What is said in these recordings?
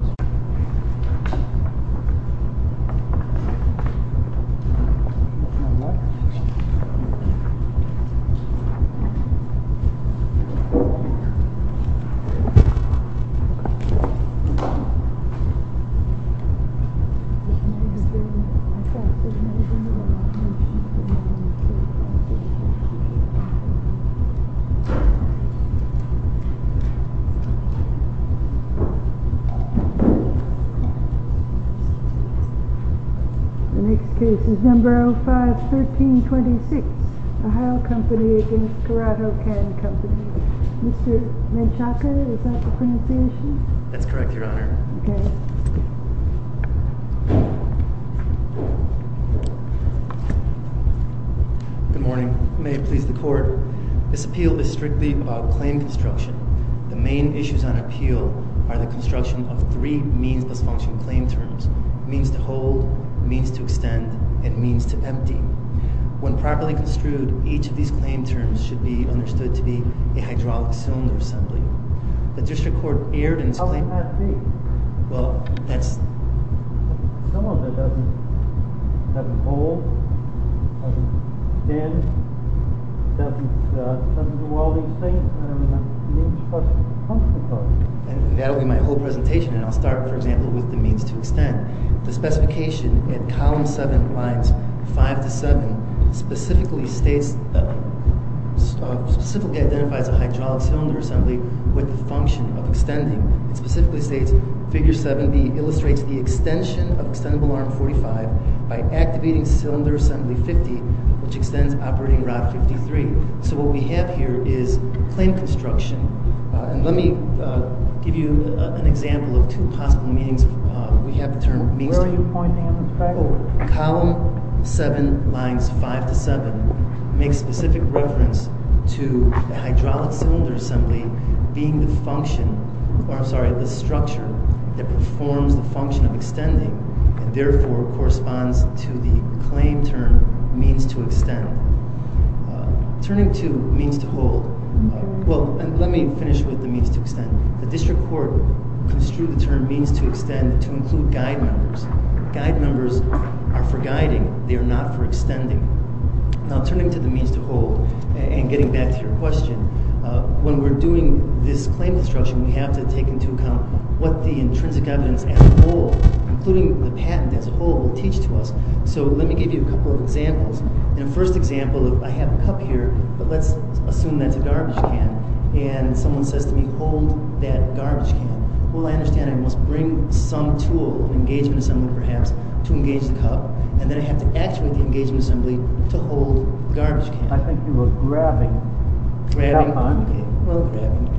Department of Energy Department of Energy Vessels The next case is number 05-1326, Ohio Company against Corrado Can Company. Mr. Menchaca, is that the pronunciation? That's correct, Your Honor. Okay. Good morning. May it please the Court, this appeal is strictly about claim construction. The main issues on appeal are the construction of three means-plus-function claim terms. Means to hold, means to extend, and means to empty. When properly construed, each of these claim terms should be understood to be a hydraulic cylinder assembly. The District Court erred in its claim... Well, that's... Some of it doesn't hold, doesn't extend, doesn't do all these things, and means-plus-function. And that'll be my whole presentation, and I'll start, for example, with the means-to-extend. The specification in column 7, lines 5 to 7, specifically states... specifically identifies a hydraulic cylinder assembly with the function of extending. It specifically states, figure 7B illustrates the extension of extendable arm 45 by activating cylinder assembly 50, which extends operating rod 53. So what we have here is claim construction. Let me give you an example of two possible meanings. We have the term means-to... Turning to means-to-hold, well, let me finish with the means-to-extend. The District Court construed the term means-to-extend to include guide numbers. Guide numbers are for guiding, they are not for extending. Now, turning to the means-to-hold, and getting back to your question, when we're doing this claim construction, we have to take into account what the intrinsic evidence as a whole, including the patent as a whole, will teach to us. So let me give you a couple of examples. In the first example, I have a cup here, but let's assume that's a garbage can, and someone says to me, hold that garbage can. Well, I understand I must bring some tool, an engagement assembly perhaps, to engage the cup, and then I have to actuate the engagement assembly to hold the garbage can. I think you were grabbing. Grabbing? Okay, well, grabbing.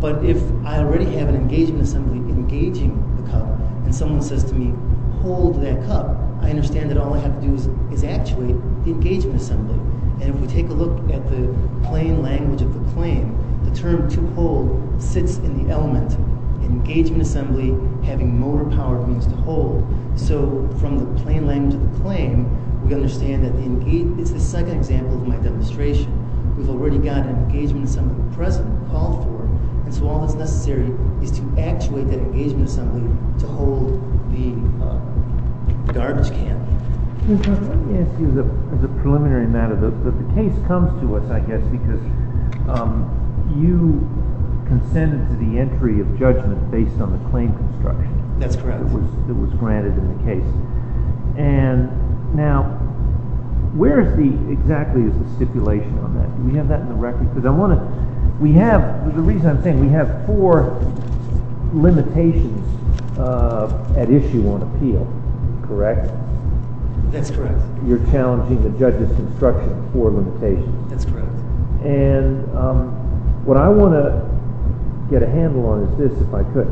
But if I already have an engagement assembly engaging the cup, and someone says to me, hold that cup, I understand that all I have to do is actuate the engagement assembly. And if we take a look at the plain language of the claim, the term to hold sits in the element, engagement assembly having motor-powered means to hold. So from the plain language of the claim, we understand that it's the second example of my demonstration. We've already got an engagement assembly present, called for, and so all that's necessary is to actuate that engagement assembly to hold the garbage can. Let me ask you, as a preliminary matter, the case comes to us, I guess, because you consented to the entry of judgment based on the claim construction. That's correct. That's correct. And what I want to get a handle on is this, if I could.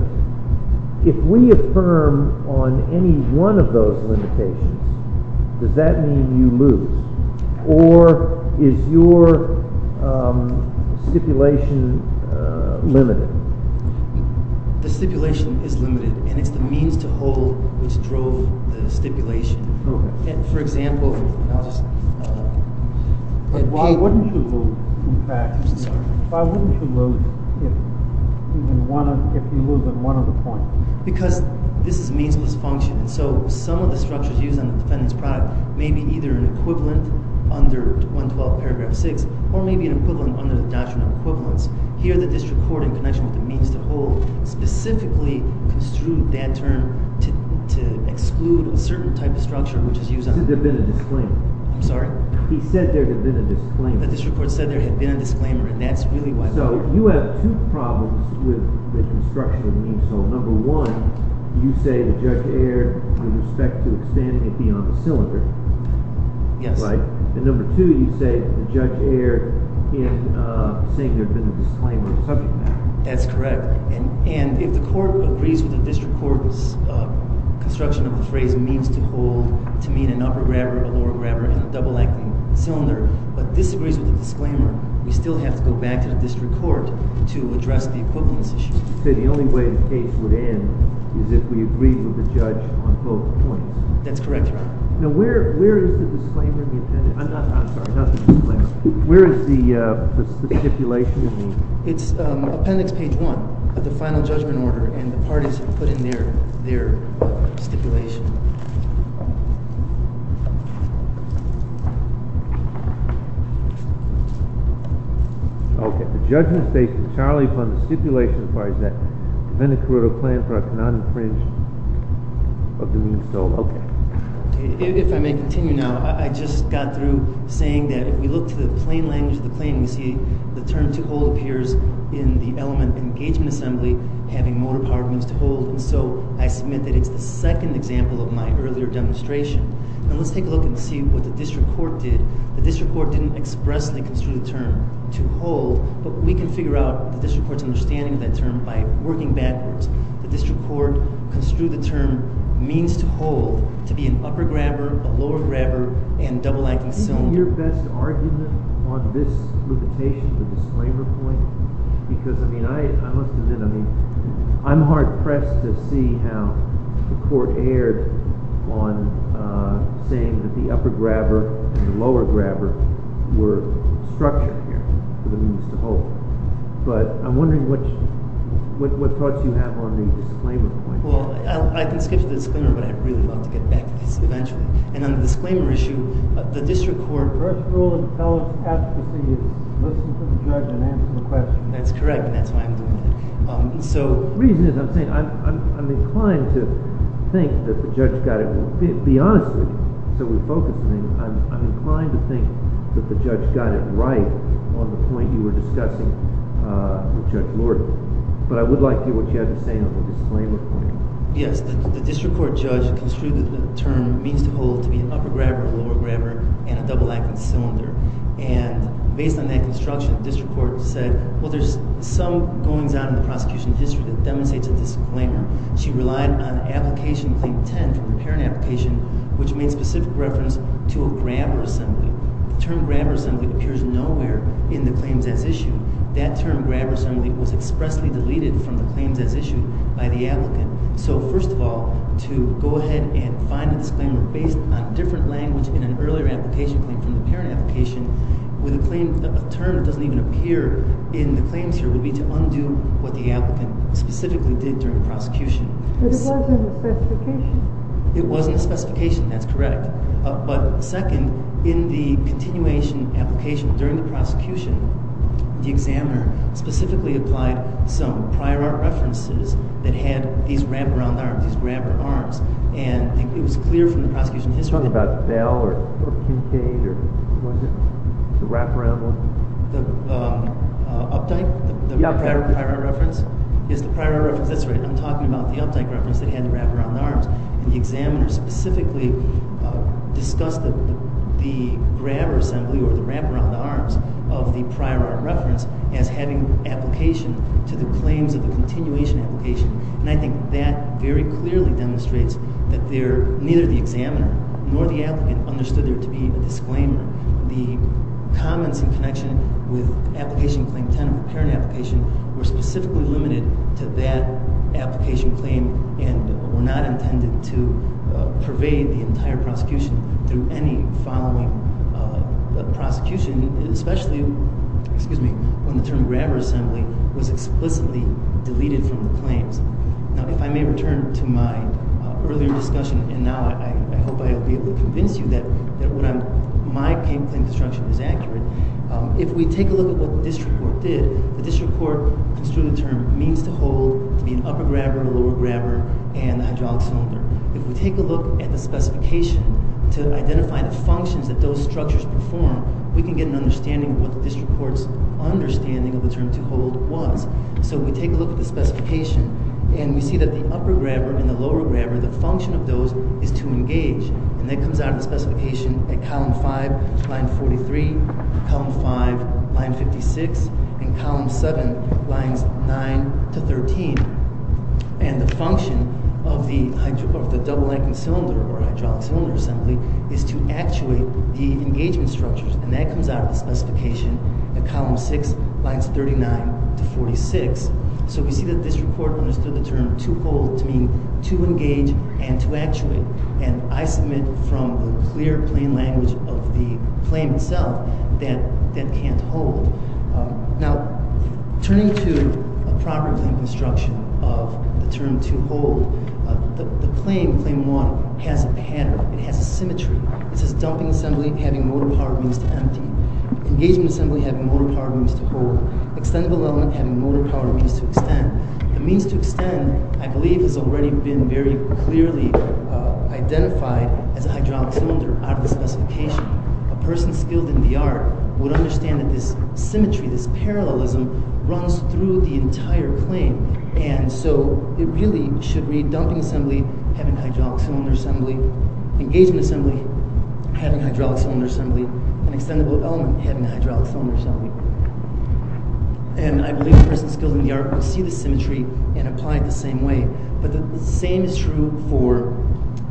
If we affirm on any one of those limitations, does that mean you lose? Or is your stipulation limited? The stipulation is limited, and it's the means to hold which drove the stipulation. Why wouldn't you lose, in fact, if you lose on one of the points? Because this is a meansless function, and so some of the structures used on the defendant's product may be either an equivalent under 112 paragraph 6 or may be an equivalent under the doctrine of equivalence. Here the district court, in connection with the means to hold, specifically construed that term to exclude a certain type of structure which is used on the defendant. He said there had been a disclaimer. I'm sorry? He said there had been a disclaimer. The district court said there had been a disclaimer, and that's really why. So you have two problems with the construction of the means to hold. Number one, you say the judge erred with respect to expanding it beyond the cylinder. Yes. Right. And number two, you say the judge erred in saying there had been a disclaimer on the subject matter. That's correct. And if the court agrees with the district court's construction of the phrase means to hold to mean an upper grabber, a lower grabber, and a double-lengthened cylinder, but disagrees with the disclaimer, we still have to go back to the district court to address the equivalence issue. So the only way the case would end is if we agreed with the judge on both points. That's correct, Your Honor. Now, where is the disclaimer in the appendix? I'm sorry, not the disclaimer. Where is the stipulation in the appendix? It's appendix page 1 of the final judgment order, and the parties have put in there their stipulation. Okay. The judgment states that Charlie funds the stipulation as far as that prevent a corrido plan for a non-infringed of the means to hold. Okay. If I may continue now, I just got through saying that if we look to the plain language of the claim, we see the term to hold appears in the element engagement assembly, having more departments to hold. And so I submit that it's the second example of my earlier demonstration. Now, let's take a look and see what the district court did. The district court didn't expressly construe the term to hold, but we can figure out the district court's understanding of that term by working backwards. The district court construed the term means to hold to be an upper grabber, a lower grabber, and double-acting cylinder. Is your best argument on this limitation, the disclaimer point? Because, I mean, I looked it in. I mean, I'm hard-pressed to see how the court erred on saying that the upper grabber and the lower grabber were structured here for the means to hold. But I'm wondering what thoughts you have on the disclaimer point. Well, I can skip to the disclaimer, but I'd really love to get back to this eventually. And on the disclaimer issue, the district court first of all has to say, listen to the judge and answer the question. That's correct, and that's why I'm doing it. The reason is I'm saying I'm inclined to think that the judge got it right on the point you were discussing with Judge Lord. But I would like to hear what you have to say on the disclaimer point. Yes, the district court judge construed the term means to hold to be an upper grabber, a lower grabber, and a double-acting cylinder. And based on that construction, the district court said, well, there's some goings-on in the prosecution history that demonstrates a disclaimer. She relied on Application Claim 10 for a parent application, which made specific reference to a grabber assembly. The term grabber assembly appears nowhere in the claims as issued. That term grabber assembly was expressly deleted from the claims as issued by the applicant. So first of all, to go ahead and find a disclaimer based on different language in an earlier application claim from the parent application with a term that doesn't even appear in the claims here would be to undo what the applicant specifically did during the prosecution. But it wasn't a specification. It wasn't a specification. That's correct. But second, in the continuation application during the prosecution, the examiner specifically applied some prior art references that had these wraparound arms, these grabber arms. And it was clear from the prosecution history— Are you talking about Bell or Kinkade or was it the wraparound ones? The up-dyke? Yeah, up-dyke. The prior art reference? Yes, the prior art reference. That's right. I'm talking about the up-dyke reference that had the wraparound arms. And the examiner specifically discussed the grabber assembly or the wraparound arms of the prior art reference as having application to the claims of the continuation application. And I think that very clearly demonstrates that neither the examiner nor the applicant understood there to be a disclaimer. The comments in connection with application claim 10 of the current application were specifically limited to that application claim and were not intended to pervade the entire prosecution through any following prosecution, especially when the term grabber assembly was explicitly deleted from the claims. Now, if I may return to my earlier discussion, and now I hope I'll be able to convince you that my claim construction is accurate. If we take a look at what the district court did, the district court construed the term means to hold to be an upper grabber, a lower grabber, and a hydraulic cylinder. If we take a look at the specification to identify the functions that those structures perform, we can get an understanding of what the district court's understanding of the term to hold was. So we take a look at the specification, and we see that the upper grabber and the lower grabber, the function of those is to engage. And that comes out of the specification at column 5, line 43, column 5, line 56, and column 7, lines 9 to 13. And the function of the double anchored cylinder or hydraulic cylinder assembly is to actuate the engagement structures. And that comes out of the specification at column 6, lines 39 to 46. So we see that district court understood the term to hold to mean to engage and to actuate. And I submit from the clear plain language of the claim itself that that can't hold. Now, turning to a proper claim construction of the term to hold, the claim, claim 1, has a pattern. It has a symmetry. It says dumping assembly having motor power means to empty. Engagement assembly having motor power means to hold. Extendable element having motor power means to extend. The means to extend, I believe, has already been very clearly identified as a hydraulic cylinder out of the specification. A person skilled in the art would understand that this symmetry, this parallelism, runs through the entire claim. And so it really should read dumping assembly having hydraulic cylinder assembly, engagement assembly having hydraulic cylinder assembly, and extendable element having hydraulic cylinder assembly. And I believe a person skilled in the art would see the symmetry and apply it the same way. But the same is true for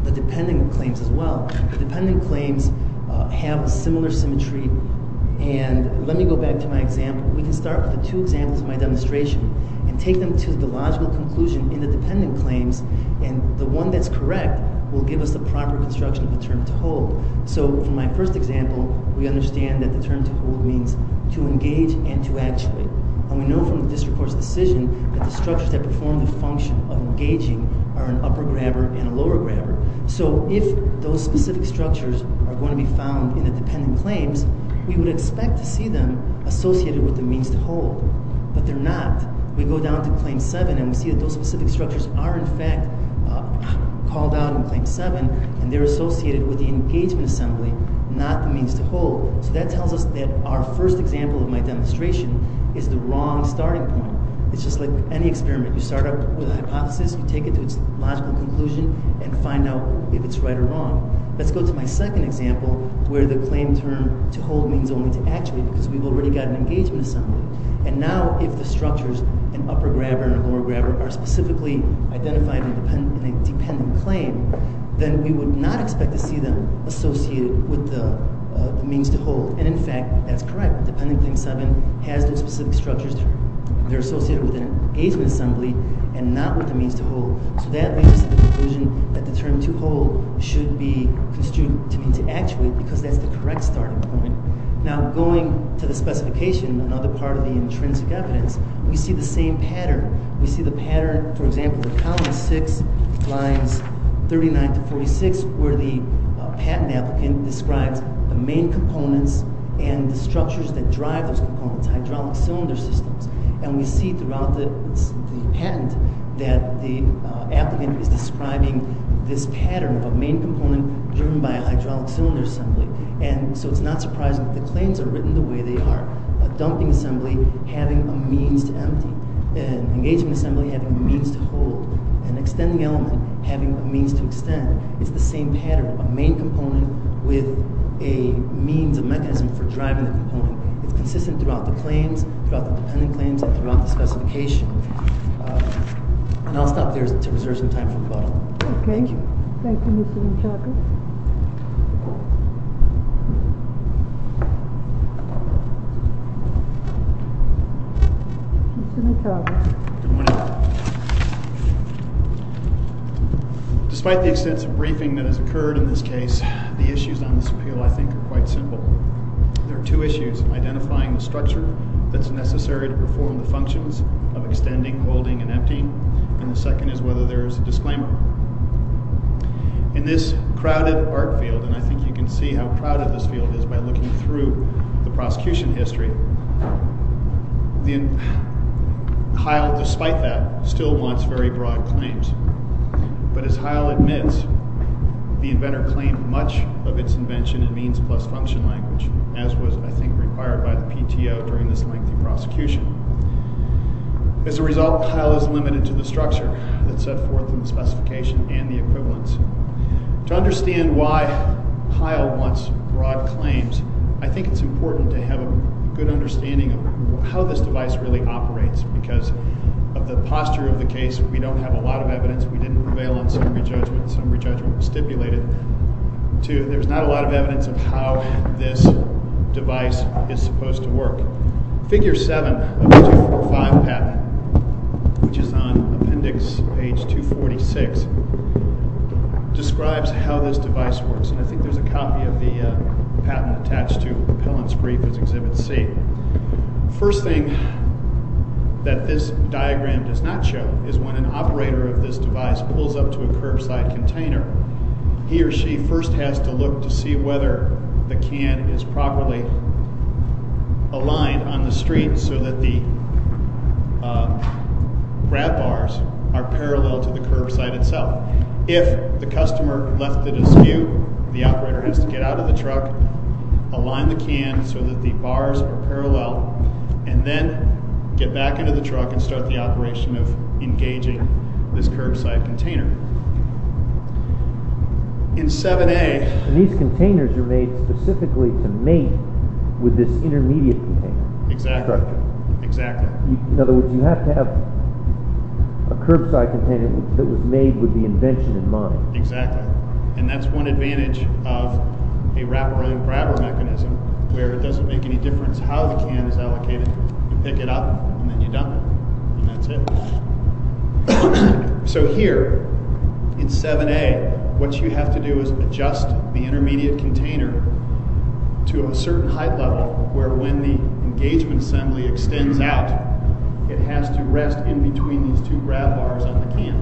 the dependent claims as well. Dependent claims have a similar symmetry. And let me go back to my example. We can start with the two examples of my demonstration and take them to the logical conclusion in the dependent claims. And the one that's correct will give us the proper construction of the term to hold. So from my first example, we understand that the term to hold means to engage and to actuate. And we know from the district court's decision that the structures that perform the function of engaging are an upper grabber and a lower grabber. So if those specific structures are going to be found in the dependent claims, we would expect to see them associated with the means to hold. But they're not. We go down to Claim 7 and we see that those specific structures are, in fact, called out in Claim 7. And they're associated with the engagement assembly, not the means to hold. So that tells us that our first example of my demonstration is the wrong starting point. It's just like any experiment. You start out with a hypothesis. You take it to its logical conclusion and find out if it's right or wrong. Let's go to my second example where the claim term to hold means only to actuate because we've already got an engagement assembly. And now if the structures, an upper grabber and a lower grabber, are specifically identified in a dependent claim, then we would not expect to see them associated with the means to hold. And, in fact, that's correct. Dependent Claim 7 has those specific structures. They're associated with an engagement assembly and not with the means to hold. So that leads us to the conclusion that the term to hold should be construed to mean to actuate because that's the correct starting point. Now, going to the specification, another part of the intrinsic evidence, we see the same pattern. We see the pattern, for example, in Columns 6 lines 39 to 46 where the patent applicant describes the main components and the structures that drive those components, hydraulic cylinder systems. And we see throughout the patent that the applicant is describing this pattern of a main component driven by a hydraulic cylinder assembly. And so it's not surprising that the claims are written the way they are, a dumping assembly having a means to empty. An engagement assembly having a means to hold. An extending element having a means to extend. It's the same pattern, a main component with a means, a mechanism for driving the component. It's consistent throughout the claims, throughout the dependent claims and throughout the specification. And I'll stop there to reserve some time for questions. Okay. Thank you, Mr. Michalkos. Mr. Michalkos. Good morning. Despite the extensive briefing that has occurred in this case, the issues on this appeal, I think, are quite simple. There are two issues, identifying the structure that's necessary to perform the functions of extending, holding, and emptying. And the second is whether there is a disclaimer. In this crowded art field, and I think you can see how crowded this field is by looking through the prosecution history, Heil, despite that, still wants very broad claims. But as Heil admits, the inventor claimed much of its invention in means plus function language, as was, I think, required by the PTO during this lengthy prosecution. As a result, Heil is limited to the structure that set forth in the specification and the equivalents. To understand why Heil wants broad claims, I think it's important to have a good understanding of how this device really operates because of the posture of the case. We don't have a lot of evidence. We didn't prevail on some re-judgment. Some re-judgment was stipulated. There's not a lot of evidence of how this device is supposed to work. Figure 7 of the 245 patent, which is on appendix page 246, describes how this device works. And I think there's a copy of the patent attached to Pellan's brief as Exhibit C. First thing that this diagram does not show is when an operator of this device pulls up to a curbside container, he or she first has to look to see whether the can is properly aligned on the street so that the grab bars are parallel to the curbside itself. If the customer left it askew, the operator has to get out of the truck, align the can so that the bars are parallel, and then get back into the truck and start the operation of engaging this curbside container. In 7A... These containers are made specifically to mate with this intermediate container. Exactly. In other words, you have to have a curbside container that was made with the invention in mind. Exactly. And that's one advantage of a wrap-around grabber mechanism where it doesn't make any difference how the can is allocated. You pick it up, and then you dump it. And that's it. So here, in 7A, what you have to do is adjust the intermediate container to a certain height level where when the engagement assembly extends out, it has to rest in between these two grab bars on the can.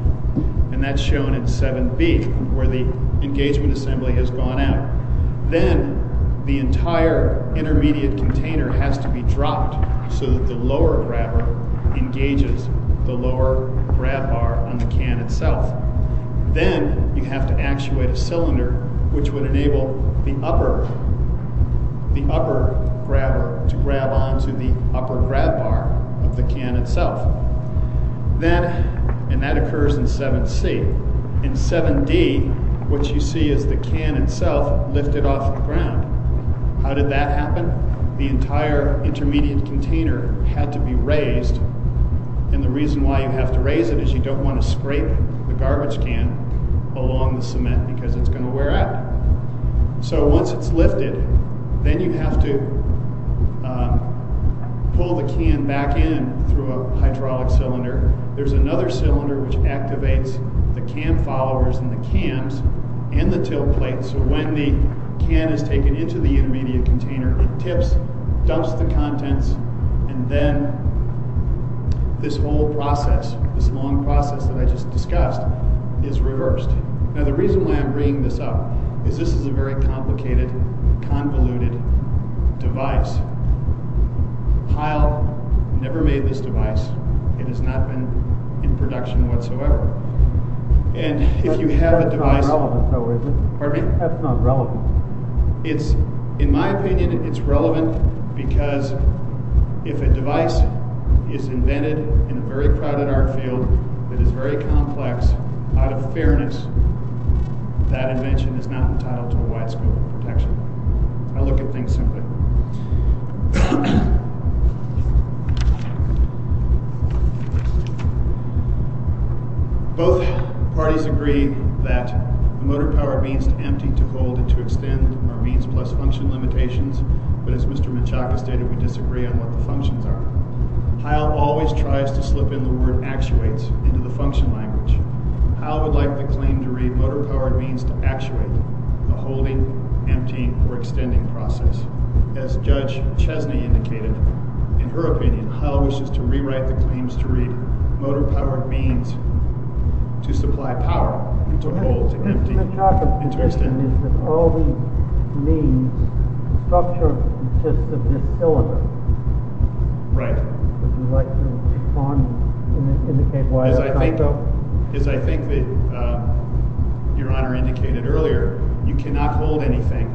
And that's shown in 7B, where the engagement assembly has gone out. Then, the entire intermediate container has to be dropped so that the lower grabber engages the lower grab bar on the can itself. Then, you have to actuate a cylinder which would enable the upper grabber to grab onto the upper grab bar of the can itself. And that occurs in 7C. In 7D, what you see is the can itself lifted off the ground. How did that happen? The entire intermediate container had to be raised. And the reason why you have to raise it is you don't want to scrape the garbage can along the cement because it's going to wear out. So once it's lifted, then you have to pull the can back in through a hydraulic cylinder. There's another cylinder which activates the can followers in the cans and the tilt plate so when the can is taken into the intermediate container, it tips, dumps the contents, and then this whole process, this long process that I just discussed, is reversed. Now, the reason why I'm bringing this up is this is a very complicated, convoluted device. Heil never made this device. It has not been in production whatsoever. And if you have a device... That's not relevant, though, is it? Pardon me? That's not relevant. In my opinion, it's relevant because if a device is invented in a very private art field that is very complex, out of fairness, that invention is not entitled to a wide scope of protection. I look at things simply. Both parties agree that motor-powered means to empty, to hold, and to extend are means plus function limitations, but as Mr. Michalka stated, we disagree on what the functions are. Heil always tries to slip in the word actuates into the function language. Heil would like the claim to read motor-powered means to actuate, the holding, emptying, or extending process. And as Judge Chesney indicated, in her opinion, Heil wishes to rewrite the claims to read motor-powered means to supply power, and to hold, and to empty, and to extend. The topic of discussion is that all these means, the structure consists of this syllabus. Right. Would you like to respond and indicate why that's not so? As I think that Your Honor indicated earlier, you cannot hold anything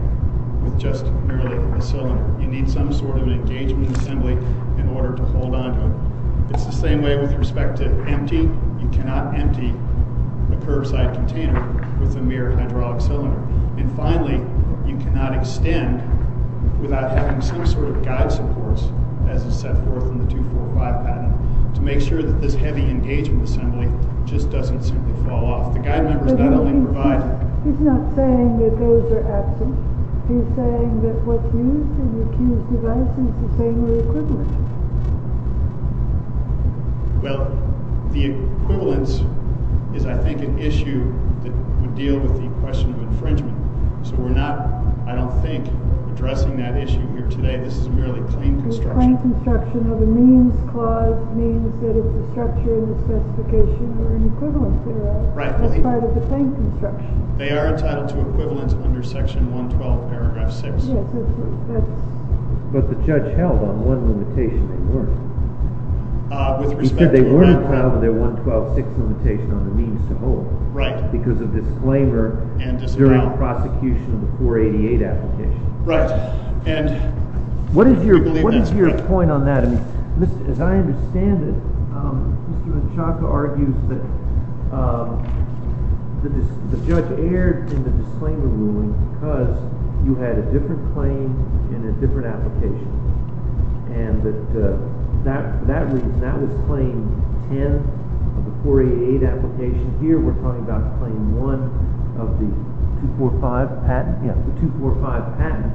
with just merely a cylinder. You need some sort of an engagement assembly in order to hold onto it. It's the same way with respect to emptying. You cannot empty a curbside container with a mere hydraulic cylinder. And finally, you cannot extend without having some sort of guide supports, as is set forth in the 245 patent, to make sure that this heavy engagement assembly just doesn't simply fall off. The guide members not only provide... He's not saying that those are absent. He's saying that what's used in the accused's device is the same or equivalent. Well, the equivalence is, I think, an issue that would deal with the question of infringement. So we're not, I don't think, addressing that issue here today. This is merely claim construction. Claim construction of a means clause means that it's a structure in the specification or an equivalency. That's part of the claim construction. They are entitled to equivalence under Section 112, Paragraph 6. Yes. But the judge held on one limitation. They weren't. With respect to what? Because they weren't entitled to their 112-6 limitation on the means to hold. Right. Because of disclaimer during the prosecution of the 488 application. Right. What is your point on that? As I understand it, Mr. Hachaka argues that the judge erred in the disclaimer ruling because you had a different claim in a different application. And for that reason, that was Claim 10 of the 488 application. Here we're talking about Claim 1 of the 245 patent. Yes. The 245 patent.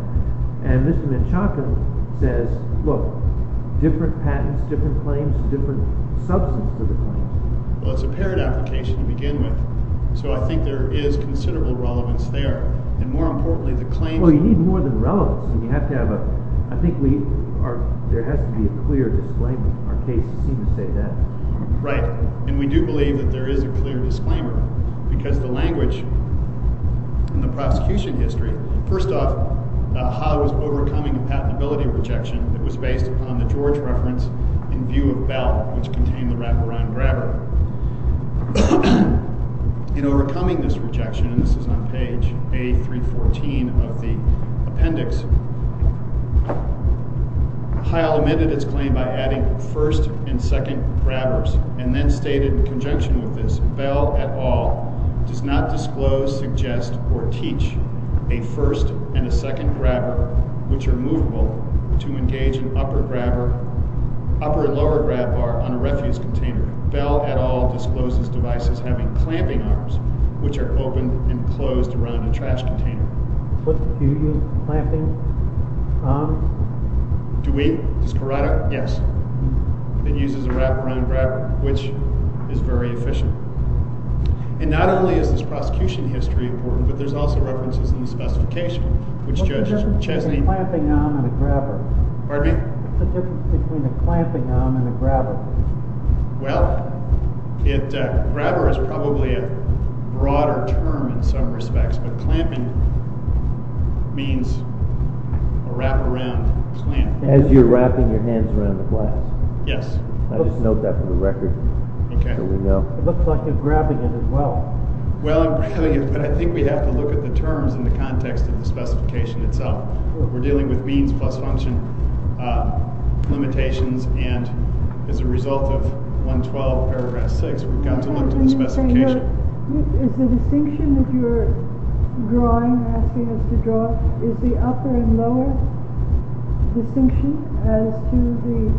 And Mr. Hachaka says, look, different patents, different claims, different substance for the claims. Well, it's a paired application to begin with. So I think there is considerable relevance there. And more importantly, the claims— Well, you need more than relevance. And you have to have a—I think we are—there has to be a clear disclaimer. Our cases seem to say that. Right. And we do believe that there is a clear disclaimer because the language in the prosecution history— First off, Hile was overcoming a patentability rejection that was based upon the George reference in view of Bell, which contained the wraparound grabber. In overcoming this rejection—and this is on page A314 of the appendix—Hile omitted its claim by adding first and second grabbers and then stated in conjunction with this, Bell, et al., does not disclose, suggest, or teach a first and a second grabber, which are movable, to engage an upper and lower grab bar on a refuse container. Bell, et al., discloses devices having clamping arms, which are open and closed around a trash container. Do you use clamping arms? Do we? Does Parada? Yes. It uses a wraparound grabber, which is very efficient. And not only is this prosecution history important, but there's also references in the specification, which Judge Chesney— What's the difference between a clamping arm and a grabber? Pardon me? What's the difference between a clamping arm and a grabber? Well, grabber is probably a broader term in some respects, but clamping means a wraparound clamp. As you're wrapping your hands around the glass? Yes. I'll just note that for the record. Okay. It looks like you're grabbing it as well. Well, I'm grabbing it, but I think we have to look at the terms in the context of the specification itself. We're dealing with means plus function limitations, and as a result of 112, paragraph 6, we've got to look to the specification. Is the distinction that you're drawing, asking us to draw, is the upper and lower distinction as to the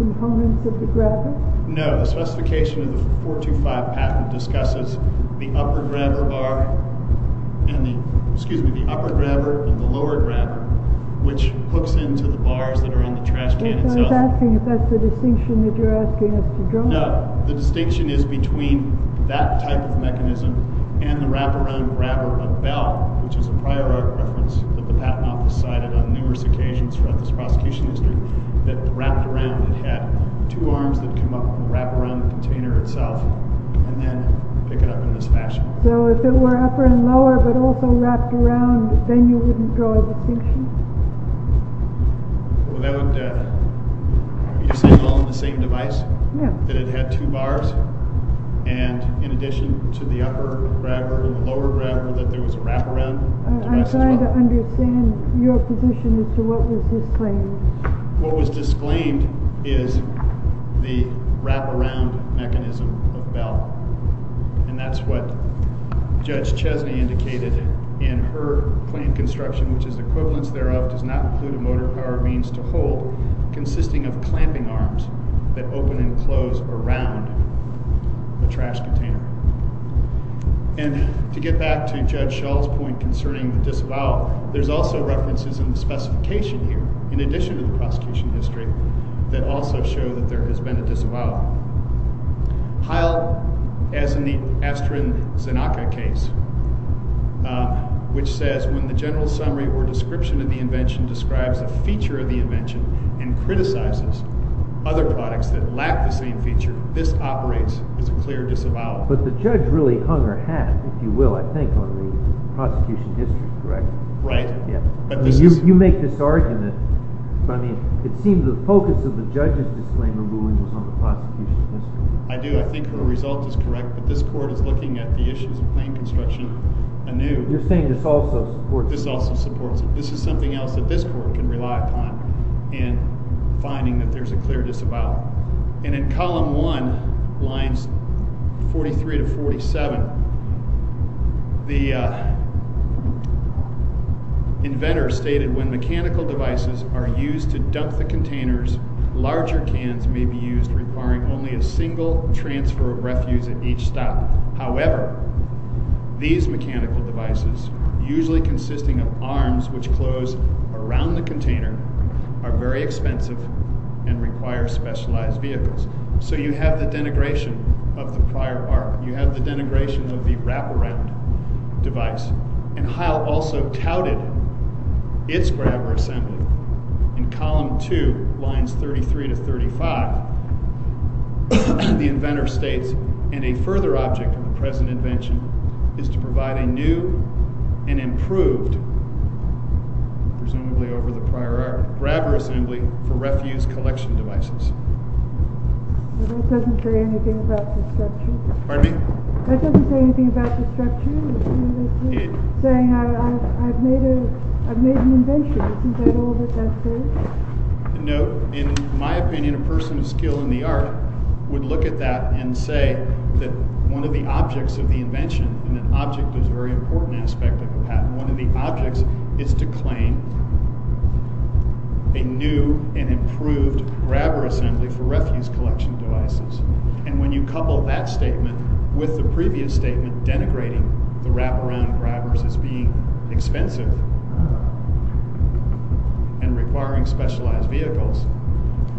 components of the grabber? No. The specification of the 425 patent discusses the upper grabber and the lower grabber, which hooks into the bars that are in the trash can itself. I was asking if that's the distinction that you're asking us to draw. The distinction is between that type of mechanism and the wraparound grabber of Bell, which is a prior art reference that the Patent Office cited on numerous occasions throughout this prosecution history, that wrapped around it had two arms that come up and wrap around the container itself and then pick it up in this fashion. So if it were upper and lower but also wrapped around, then you wouldn't draw a distinction? Are you saying all on the same device? Yeah. That it had two bars, and in addition to the upper grabber and the lower grabber, that there was a wraparound device as well? I'm trying to understand your position as to what was disclaimed. What was disclaimed is the wraparound mechanism of Bell, and that's what Judge Chesney indicated in her claim construction, which is the equivalence thereof does not include a motor power means to hold, consisting of clamping arms that open and close around the trash container. And to get back to Judge Schall's point concerning the disavowal, there's also references in the specification here, in addition to the prosecution history, that also show that there has been a disavowal. Piled, as in the Astrin-Zanaka case, which says, when the general summary or description of the invention describes a feature of the invention and criticizes other products that lack the same feature, this operates as a clear disavowal. But the judge really hung her hat, if you will, I think, on the prosecution history, correct? Right. You make this argument, but it seems the focus of the judge's disclaimer ruling was on the prosecution history. I do. I think her result is correct, but this court is looking at the issues of claim construction anew. You're saying this also supports it? This also supports it. This is something else that this court can rely upon in finding that there's a clear disavowal. And in column one, lines 43 to 47, the inventor stated, when mechanical devices are used to dump the containers, larger cans may be used, requiring only a single transfer of refuse at each stop. However, these mechanical devices, usually consisting of arms which close around the container, are very expensive and require specialized vehicles. So you have the denigration of the prior part. You have the denigration of the wraparound device. And Heil also touted its grabber assembly. In column two, lines 33 to 35, the inventor states, and a further object of the present invention, is to provide a new and improved, presumably over the prior art, grabber assembly for refuse collection devices. That doesn't say anything about construction? Pardon me? You're saying I've made an invention. Isn't that all that that says? No. In my opinion, a person of skill in the art would look at that and say that one of the objects of the invention, and an object is a very important aspect of the patent, one of the objects is to claim a new and improved grabber assembly for refuse collection devices. And when you couple that statement with the previous statement denigrating the wraparound grabbers as being expensive and requiring specialized vehicles,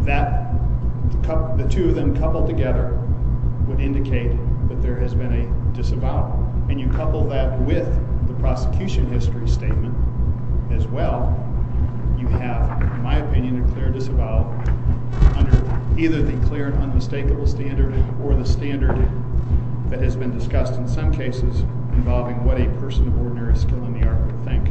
the two of them coupled together would indicate that there has been a disavowal. And you couple that with the prosecution history statement as well, you have, in my opinion, a clear disavowal under either the clear and unmistakable standard or the standard that has been discussed in some cases involving what a person of ordinary skill in the art would think.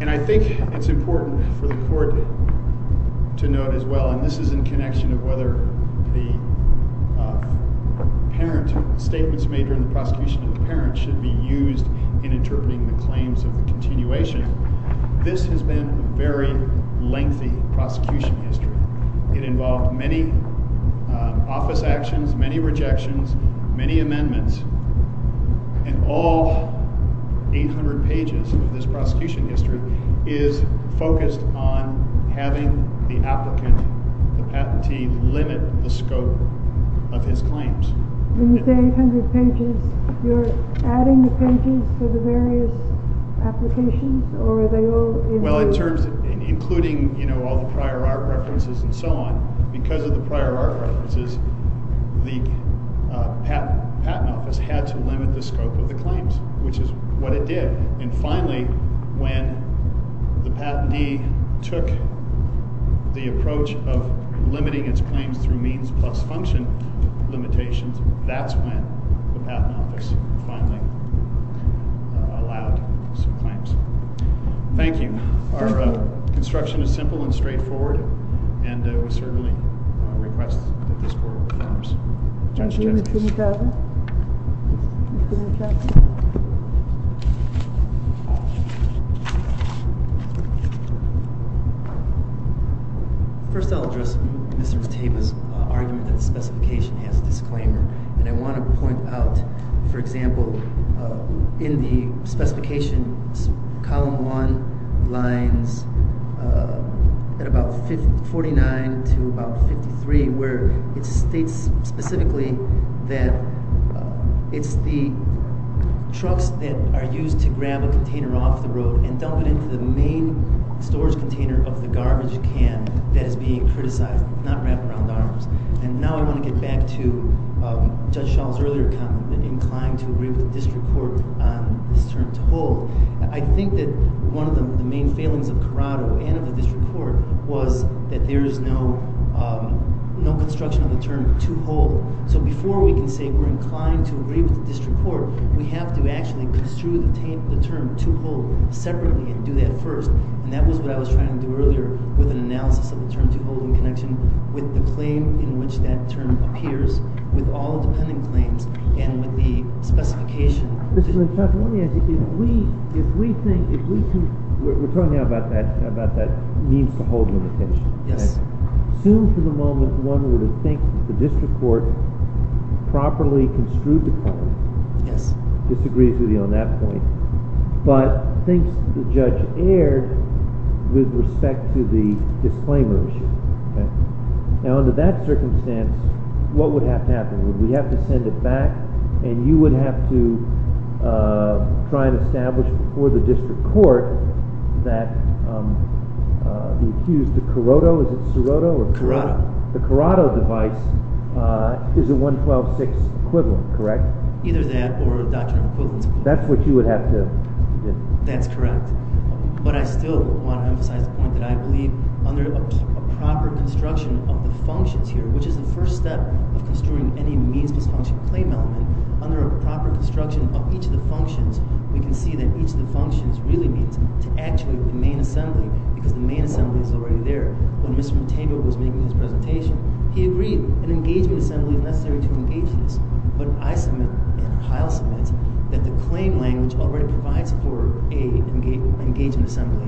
And I think it's important for the court to note as well, and this is in connection of whether the parent statements made during the prosecution of the parent should be used in interpreting the claims of the continuation. This has been a very lengthy prosecution history. It involved many office actions, many rejections, many amendments, and all 800 pages of this prosecution history is focused on having the applicant, the patentee, limit the scope of his claims. When you say 800 pages, you're adding the pages for the various applications, or are they all included? In terms of including all the prior art references and so on, because of the prior art references, the patent office had to limit the scope of the claims, which is what it did. And finally, when the patentee took the approach of limiting its claims through means plus function limitations, that's when the patent office finally allowed some claims. Thank you. Our instruction is simple and straightforward, and we certainly request that this court confirms. Thank you, Mr. McTavis. First, I'll address Mr. McTavis' argument that the specification has a disclaimer, and I want to point out, for example, in the specification column one lines at about 49 to about 53, where it states specifically that it's the trucks that are used to grab a container off the road and dump it into the main storage container of the garbage can that is being criticized, not wrapped around arms. And now I want to get back to Judge Schall's earlier comment, inclined to agree with the district court on this term to hold. I think that one of the main failings of Corrado and of the district court was that there is no construction of the term to hold. So before we can say we're inclined to agree with the district court, we have to actually construe the term to hold separately and do that first. And that was what I was trying to do earlier with an analysis of the term to hold in connection with the claim in which that term appears with all the pending claims and with the specification. Mr. McTavis, let me ask you, if we think – we're talking now about that means to hold limitation. Yes. Assume for the moment one would think the district court properly construed the term. Yes. Disagrees with you on that point, but thinks the judge erred with respect to the disclaimer issue. Now, under that circumstance, what would have to happen? Would we have to send it back, and you would have to try and establish for the district court that the accused – the Corrado, is it Siroto? Corrado. The Corrado device is a 112.6 equivalent, correct? Either that or a doctrine of equivalence. That's what you would have to – That's correct. But I still want to emphasize the point that I believe under a proper construction of the functions here, which is the first step of construing any means dysfunction claim element, under a proper construction of each of the functions, we can see that each of the functions really means to actuate the main assembly because the main assembly is already there. When Mr. McTavis was making his presentation, he agreed an engagement assembly is necessary to engage this. But I submit, and Kyle submits, that the claim language already provides for an engagement assembly.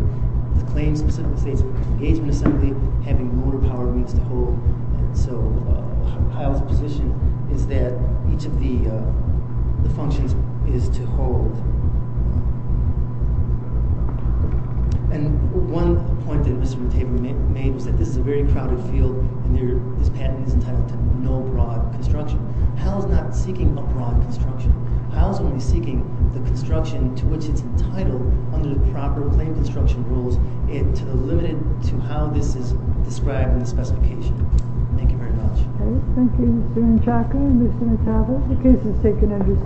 The claim specifically states engagement assembly having motor power means to hold. So Kyle's position is that each of the functions is to hold. And one point that Mr. McTavis made was that this is a very crowded field, and this patent is entitled to no broad construction. Kyle's not seeking a broad construction. Kyle's only seeking the construction to which it's entitled under the proper claim construction rules and to limit it to how this is described in the specification. Thank you very much. Thank you, Mr. Inchaco and Mr. McTavis. The case is taken under submission. All rise.